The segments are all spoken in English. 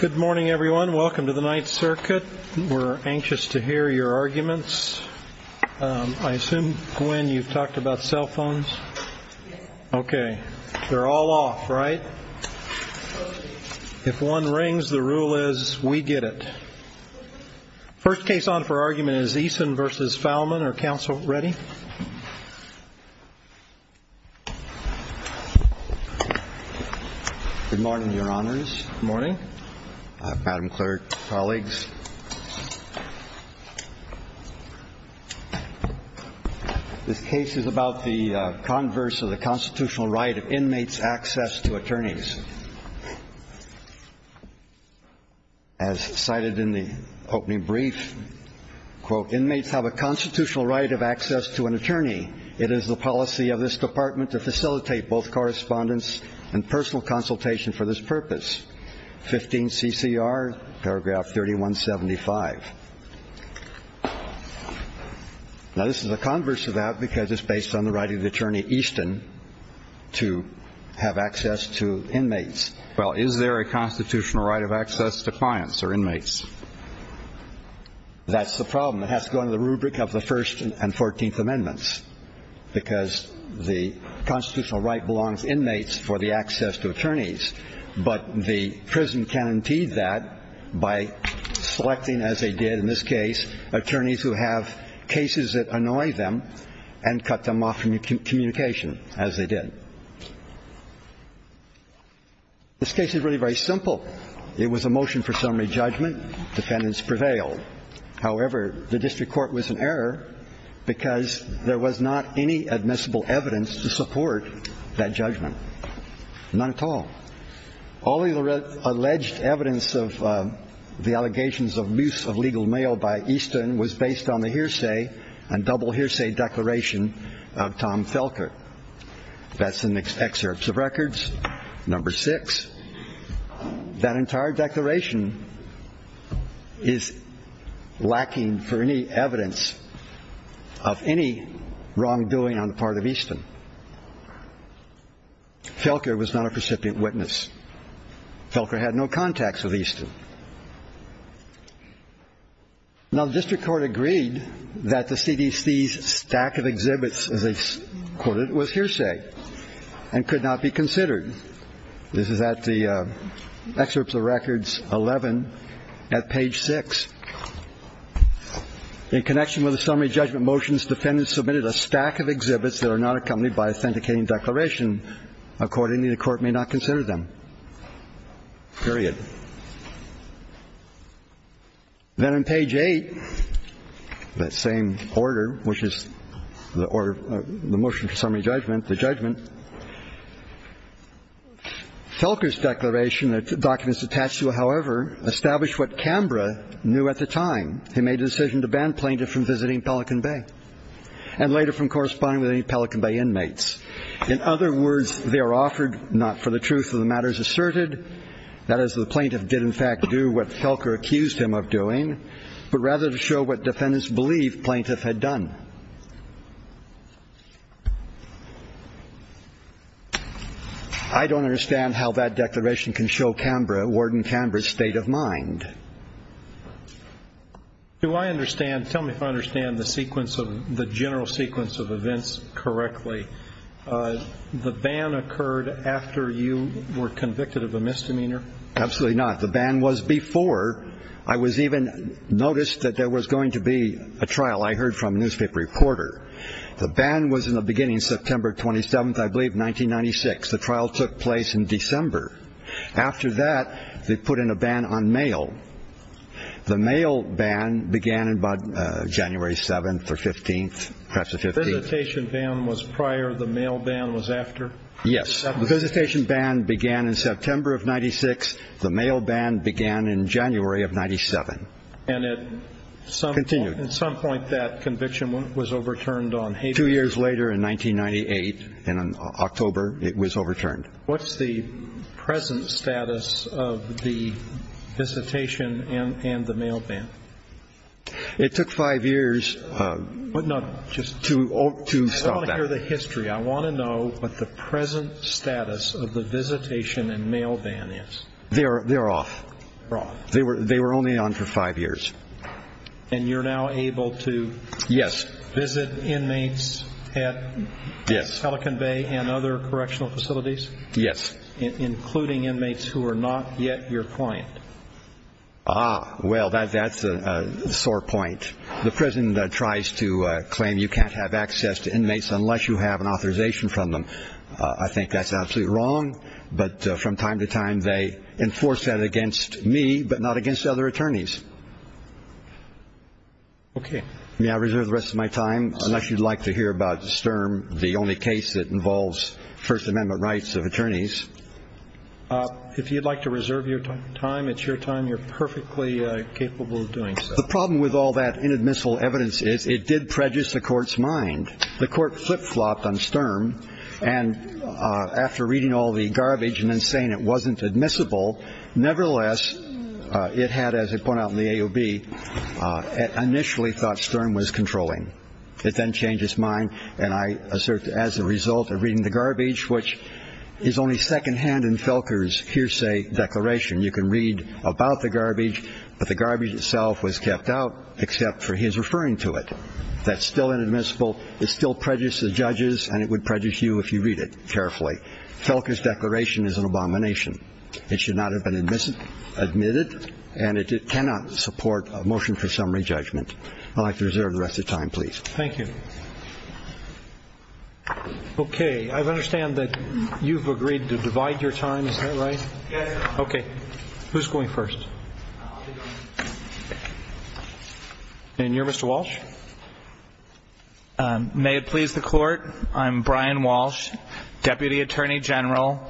Good morning, everyone. Welcome to the Ninth Circuit. We're anxious to hear your arguments. I assume, Gwen, you've talked about cell phones? Okay. They're all off, right? If one rings, the rule is we get it. First case on for argument is Eason v. Fallman. Are counsel ready? Good morning, Your Honors. Good morning, Madam Clerk, colleagues. This case is about the converse of the constitutional right of inmates' access to attorneys. As cited in the opening brief, quote, inmates have a constitutional right of access to an attorney. It is the policy of this department to facilitate both correspondence and personal consultation for this purpose. Fifteen CCR, paragraph 3175. Now, this is a converse of that because it's based on the right of the attorney, Easton, to have access to inmates. Well, is there a constitutional right of access to clients or inmates? That's the problem. It has to go under the rubric of the First and Fourteenth Amendments because the constitutional right belongs to inmates for the access to attorneys. But the prison can enteed that by selecting, as they did in this case, attorneys who have cases that annoy them and cut them off from communication, as they did. This case is really very simple. It was a motion for summary judgment. Defendants prevailed. However, the district court was in error because there was not any admissible evidence to support that judgment. None at all. All the alleged evidence of the allegations of abuse of legal mail by Easton was based on the hearsay and double hearsay declaration of Tom Felker. That's in the excerpts of records. Number six, that entire declaration is lacking for any evidence of any wrongdoing on the part of Easton. Felker was not a recipient witness. Felker had no contacts with Easton. Now, the district court agreed that the CDC's stack of exhibits, as they quoted, was hearsay and could not be considered. This is at the excerpts of records 11 at page six. In connection with the summary judgment motions, defendants submitted a stack of exhibits that are not accompanied by authenticating declaration. Accordingly, the court may not consider them. Period. Then on page eight, that same order, which is the order of the motion for summary judgment, the judgment, Felker's declaration, the documents attached to it, however, established what Canberra knew at the time. He made a decision to ban plaintiff from visiting Pelican Bay and later from corresponding with any Pelican Bay inmates. In other words, they are offered not for the truth of the matters asserted. That is, the plaintiff did, in fact, do what Felker accused him of doing, but rather to show what defendants believed plaintiff had done. I don't understand how that declaration can show Canberra, Warden Canberra's state of mind. Do I understand? Tell me if I understand the sequence of the general sequence of events correctly. The ban occurred after you were convicted of a misdemeanor. Absolutely not. The ban was before I was even noticed that there was going to be a trial. I heard from a newspaper reporter. The ban was in the beginning, September 27th, I believe, 1996. The trial took place in December. After that, they put in a ban on mail. The mail ban began in January 7th or 15th. The visitation ban was prior. The mail ban was after. Yes. The visitation ban began in September of 96. The mail ban began in January of 97. And at some point that conviction was overturned on Haiti. Two years later, in 1998, in October, it was overturned. What's the present status of the visitation and the mail ban? It took five years to stop that. I want to hear the history. I want to know what the present status of the visitation and mail ban is. They're off. They're off. They were only on for five years. And you're now able to visit inmates at Pelican Bay and other correctional facilities? Yes. Including inmates who are not yet your client? Ah, well, that's a sore point. The prison tries to claim you can't have access to inmates unless you have an authorization from them. I think that's absolutely wrong. But from time to time they enforce that against me, but not against other attorneys. Okay. May I reserve the rest of my time? Unless you'd like to hear about Sturm, the only case that involves First Amendment rights of attorneys. If you'd like to reserve your time, it's your time. You're perfectly capable of doing so. The problem with all that inadmissible evidence is it did prejudice the court's mind. The court flip-flopped on Sturm, and after reading all the garbage and then saying it wasn't admissible, nevertheless, it had, as I point out in the AOB, initially thought Sturm was controlling. It then changed its mind, and I assert as a result of reading the garbage, which is only secondhand in Felker's hearsay declaration. You can read about the garbage, but the garbage itself was kept out except for his referring to it. That's still inadmissible. It still prejudices judges, and it would prejudice you if you read it carefully. Felker's declaration is an abomination. It should not have been admitted, and it cannot support a motion for summary judgment. I'd like to reserve the rest of your time, please. Thank you. Okay, I understand that you've agreed to divide your time. Is that right? Yes. Okay. Who's going first? And you're Mr. Walsh? May it please the Court, I'm Brian Walsh, Deputy Attorney General,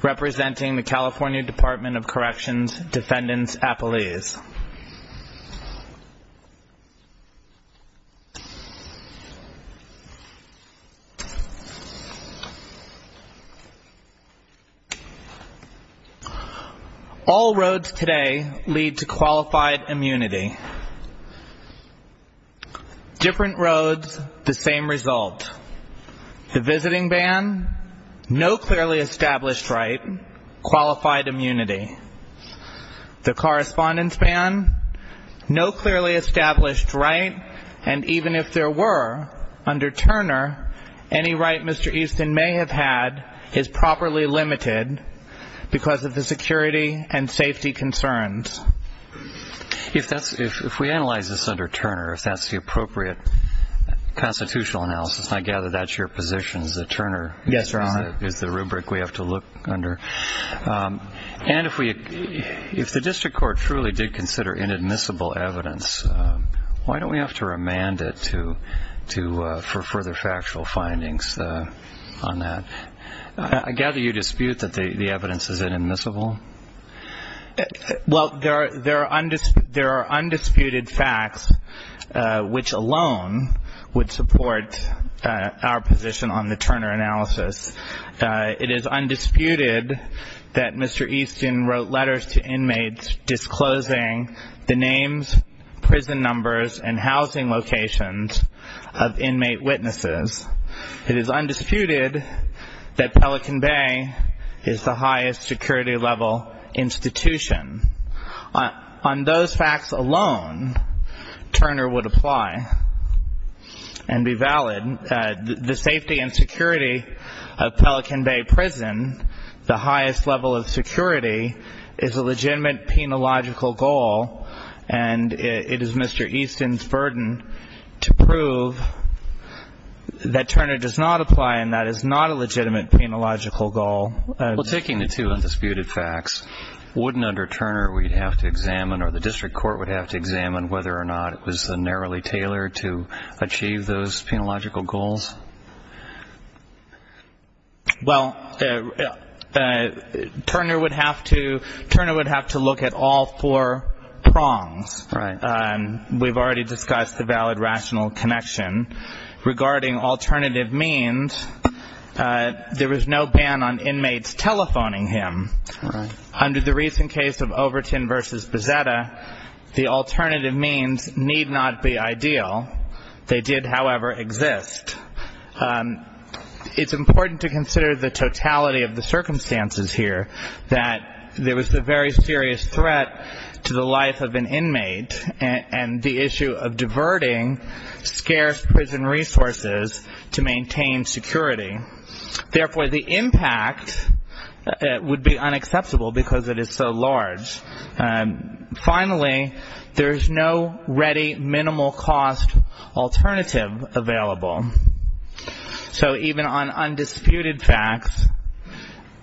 representing the California Department of Corrections Defendant's Appeals. All roads today lead to qualified immunity. Different roads, the same result. The visiting ban, no clearly established right, qualified immunity. The correspondence ban, no clearly established right, and even if there were, under Turner, any right Mr. Easton may have had is properly limited because of the security and safety concerns. If we analyze this under Turner, if that's the appropriate constitutional analysis, and I gather that's your position is that Turner is the rubric we have to look under, and if the district court truly did consider inadmissible evidence, why don't we have to remand it for further factual findings on that? I gather you dispute that the evidence is inadmissible? Well, there are undisputed facts which alone would support our position on the Turner analysis. It is undisputed that Mr. Easton wrote letters to inmates disclosing the names, prison numbers, and housing locations of inmate witnesses. It is undisputed that Pelican Bay is the highest security level institution. On those facts alone, Turner would apply and be valid. The safety and security of Pelican Bay Prison, the highest level of security, is a legitimate penological goal, and it is Mr. Easton's burden to prove that Turner does not apply and that is not a legitimate penological goal. Well, taking the two undisputed facts, wouldn't under Turner we have to examine or the district court would have to examine whether or not it was narrowly tailored to achieve those penological goals? Well, Turner would have to look at all four prongs. Right. We've already discussed the valid rational connection. Regarding alternative means, there was no ban on inmates telephoning him. Right. Under the recent case of Overton v. Bezzetta, the alternative means need not be ideal. They did, however, exist. It's important to consider the totality of the circumstances here, that there was a very serious threat to the life of an inmate and the issue of diverting scarce prison resources to maintain security. Therefore, the impact would be unacceptable because it is so large. Finally, there is no ready minimal cost alternative available. So even on undisputed facts,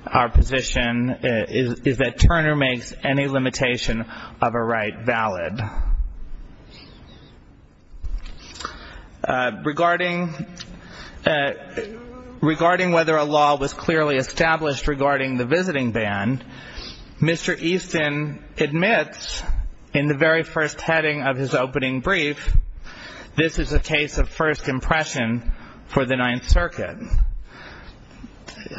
our position is that Turner makes any limitation of a right valid. Regarding whether a law was clearly established regarding the visiting ban, Mr. Easton admits in the very first heading of his opening brief, this is a case of first impression for the Ninth Circuit.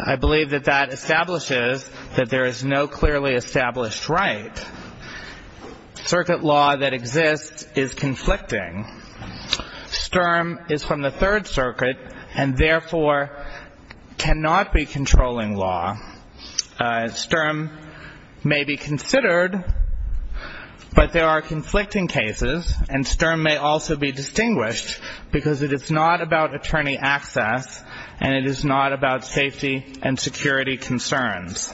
I believe that that establishes that there is no clearly established right. Circuit law that exists is conflicting. Sturm is from the Third Circuit and, therefore, cannot be controlling law. Sturm may be considered, but there are conflicting cases, and Sturm may also be distinguished because it is not about attorney access and it is not about safety and security concerns.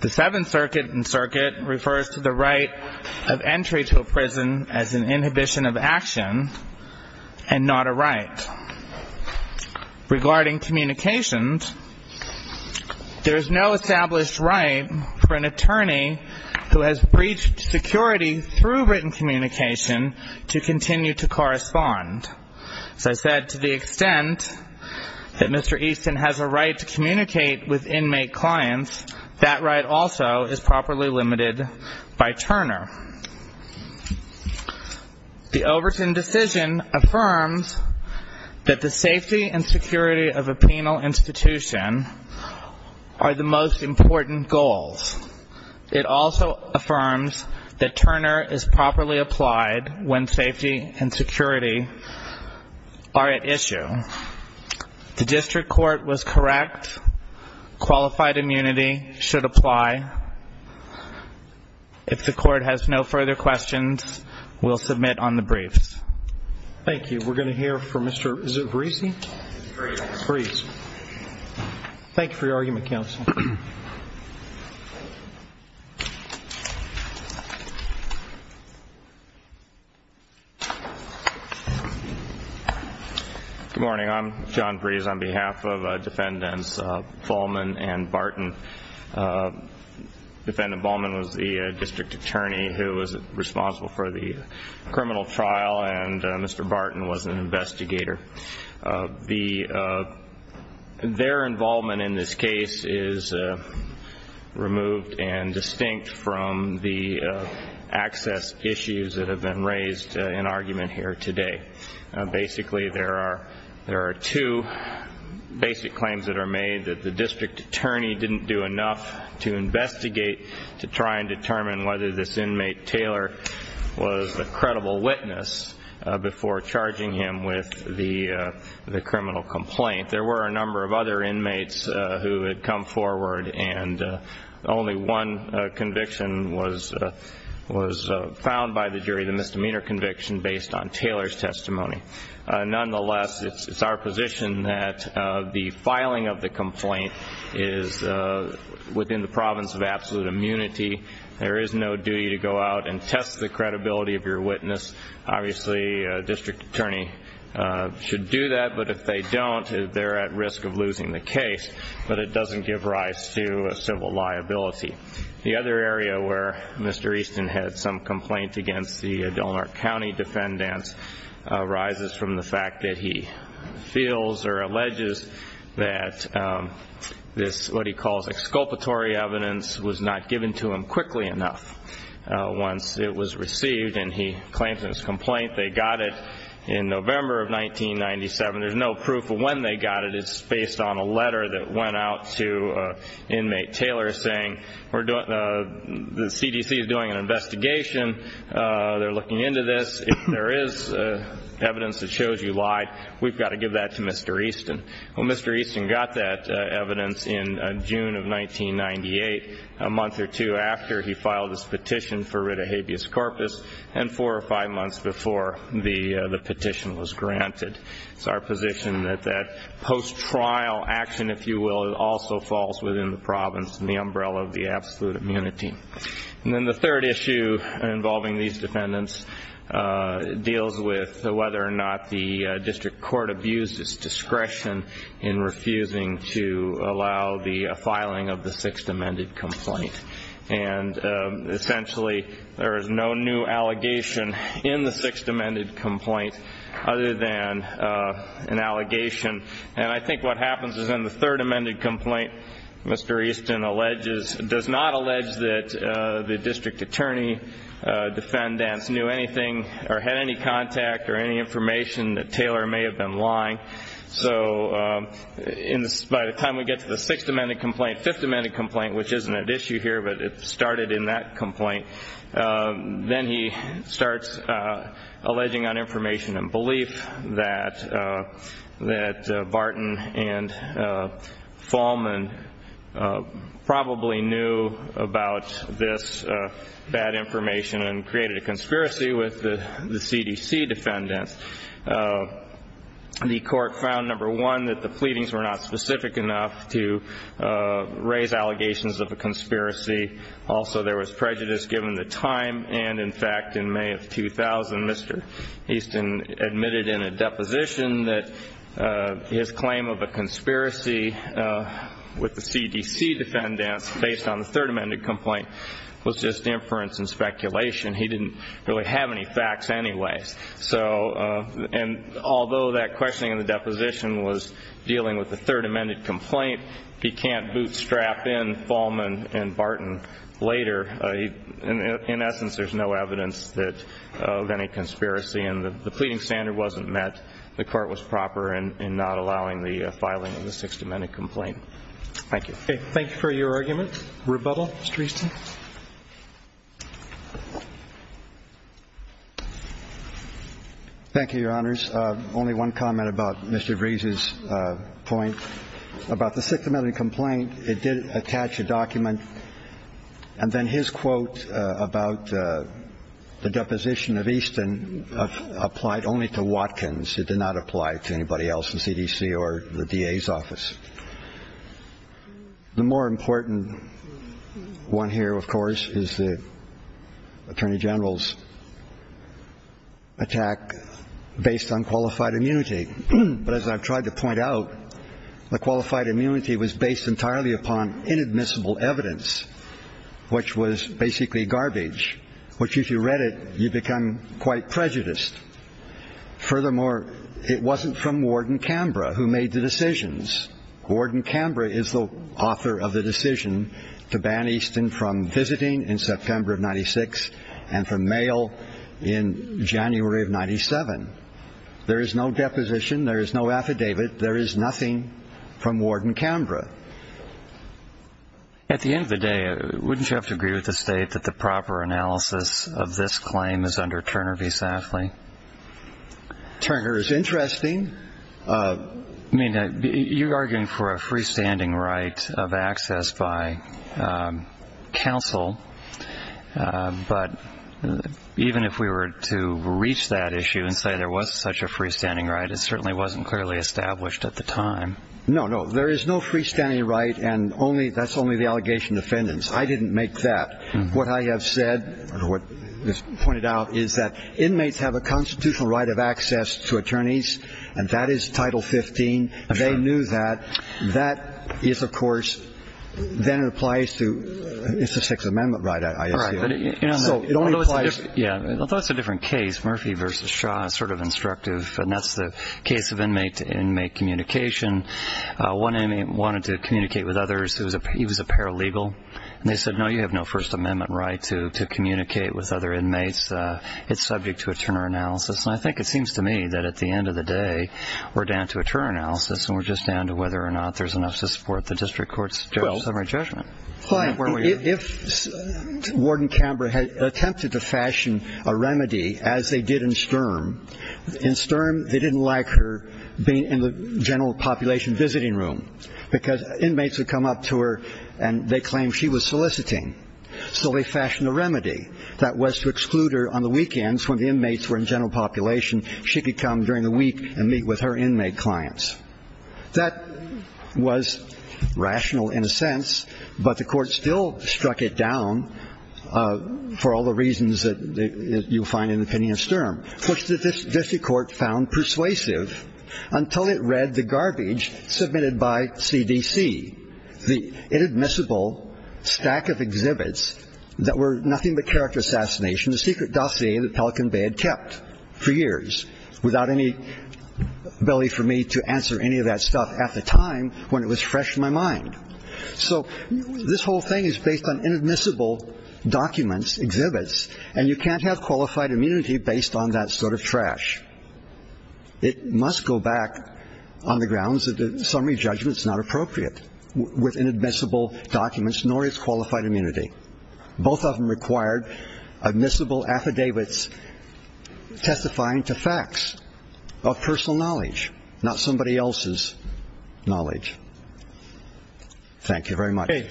The Seventh Circuit and circuit refers to the right of entry to a prison as an inhibition of action and not a right. Regarding communications, there is no established right for an attorney who has breached security through written communication to continue to correspond. As I said, to the extent that Mr. Easton has a right to communicate with inmate clients, that right also is properly limited by Turner. The Overton decision affirms that the safety and security of a penal institution are the most important goals. It also affirms that Turner is properly applied when safety and security are at issue. The district court was correct. Qualified immunity should apply. If the court has no further questions, we'll submit on the briefs. Thank you. Good morning. I'm John Breeze on behalf of Defendants Vollman and Barton. Defendant Vollman was the district attorney who was responsible for the criminal trial, and Mr. Barton was an investigator. Their involvement in this case is removed and distinct from the access issues that have been raised in argument here today. Basically, there are two basic claims that are made, that the district attorney didn't do enough to investigate to try and determine whether this inmate, Taylor, was a credible witness before charging him with the criminal complaint. There were a number of other inmates who had come forward, and only one conviction was found by the jury, the misdemeanor conviction, based on Taylor's testimony. Nonetheless, it's our position that the filing of the complaint is within the province of absolute immunity. There is no duty to go out and test the credibility of your witness. Obviously, a district attorney should do that, but if they don't, they're at risk of losing the case. But it doesn't give rise to civil liability. The other area where Mr. Easton had some complaint against the Dalmar County defendants arises from the fact that he feels or alleges that this what he calls exculpatory evidence was not given to him quickly enough once it was received, and he claims in his complaint they got it in November of 1997. There's no proof of when they got it. It's based on a letter that went out to inmate Taylor saying, the CDC is doing an investigation. They're looking into this. If there is evidence that shows you lied, we've got to give that to Mr. Easton. Well, Mr. Easton got that evidence in June of 1998, a month or two after he filed his petition for writ of habeas corpus, and four or five months before the petition was granted. It's our position that that post-trial action, if you will, also falls within the province and the umbrella of the absolute immunity. And then the third issue involving these defendants deals with whether or not the district court abused its discretion in refusing to allow the filing of the Sixth Amended Complaint. And essentially, there is no new allegation in the Sixth Amended Complaint other than an allegation. And I think what happens is in the Third Amended Complaint, Mr. Easton does not allege that the district attorney defendants knew anything or had any contact or any information that Taylor may have been lying. So by the time we get to the Sixth Amended Complaint, Fifth Amended Complaint, which isn't at issue here, but it started in that complaint, then he starts alleging on information and belief that Barton and Fahlman probably knew about this bad information and created a conspiracy with the CDC defendants. The court found, number one, that the pleadings were not specific enough to raise allegations of a conspiracy. Also, there was prejudice given the time. And in fact, in May of 2000, Mr. Easton admitted in a deposition that his claim of a conspiracy with the CDC defendants based on the Third Amended Complaint was just inference and speculation. He didn't really have any facts anyway. And although that questioning in the deposition was dealing with the Third Amended Complaint, he can't bootstrap in Fahlman and Barton later. In essence, there's no evidence of any conspiracy, and the pleading standard wasn't met. The court was proper in not allowing the filing of the Sixth Amended Complaint. Thank you. Thank you for your argument. Rebuttal, Mr. Easton. Thank you, Your Honors. Only one comment about Mr. Breese's point about the Sixth Amended Complaint. It did attach a document, and then his quote about the deposition of Easton applied only to Watkins. It did not apply to anybody else in CDC or the DA's office. The more important one here, of course, is the attorney general's attack based on qualified immunity. But as I've tried to point out, the qualified immunity was based entirely upon inadmissible evidence, which was basically garbage, which if you read it, you become quite prejudiced. Furthermore, it wasn't from Warden Canberra who made the decisions. Warden Canberra is the author of the decision to ban Easton from visiting in September of 96 and from mail in January of 97. There is no deposition. There is no affidavit. There is nothing from Warden Canberra. At the end of the day, wouldn't you have to agree with the state that the proper analysis of this claim is under Turner v. Safley? Turner is interesting. I mean, you're arguing for a freestanding right of access by counsel, but even if we were to reach that issue and say there was such a freestanding right, it certainly wasn't clearly established at the time. No, no, there is no freestanding right, and that's only the allegation of defendants. I didn't make that. What I have said or what was pointed out is that inmates have a constitutional right of access to attorneys, and that is Title 15. They knew that. It's a Sixth Amendment right, I assume. Although it's a different case, Murphy v. Shaw is sort of instructive, and that's the case of inmate-to-inmate communication. One inmate wanted to communicate with others. He was a paralegal. And they said, no, you have no First Amendment right to communicate with other inmates. It's subject to a Turner analysis. And I think it seems to me that at the end of the day we're down to a Turner analysis and we're just down to whether or not there's enough to support the district court's summary judgment. If Warden Camber attempted to fashion a remedy, as they did in Sturm, in Sturm they didn't like her being in the general population visiting room because inmates would come up to her and they claimed she was soliciting. So they fashioned a remedy that was to exclude her on the weekends when the inmates were in general population. She could come during the week and meet with her inmate clients. That was rational in a sense, but the court still struck it down for all the reasons that you find in the opinion of Sturm, which the district court found persuasive until it read the garbage submitted by CDC, the inadmissible stack of exhibits that were nothing but character assassination, the secret dossier that Pelican Bay had kept for years without any ability for me to answer any of that stuff at the time when it was fresh in my mind. So this whole thing is based on inadmissible documents, exhibits, and you can't have qualified immunity based on that sort of trash. It must go back on the grounds that the summary judgment is not appropriate with inadmissible documents, nor is qualified immunity. Both of them required admissible affidavits testifying to facts of personal knowledge, not somebody else's knowledge. Thank you very much. Okay.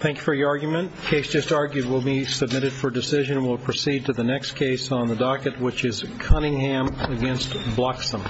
Thank you for your argument. Case just argued will be submitted for decision. We'll proceed to the next case on the docket, which is Cunningham against Bloxham.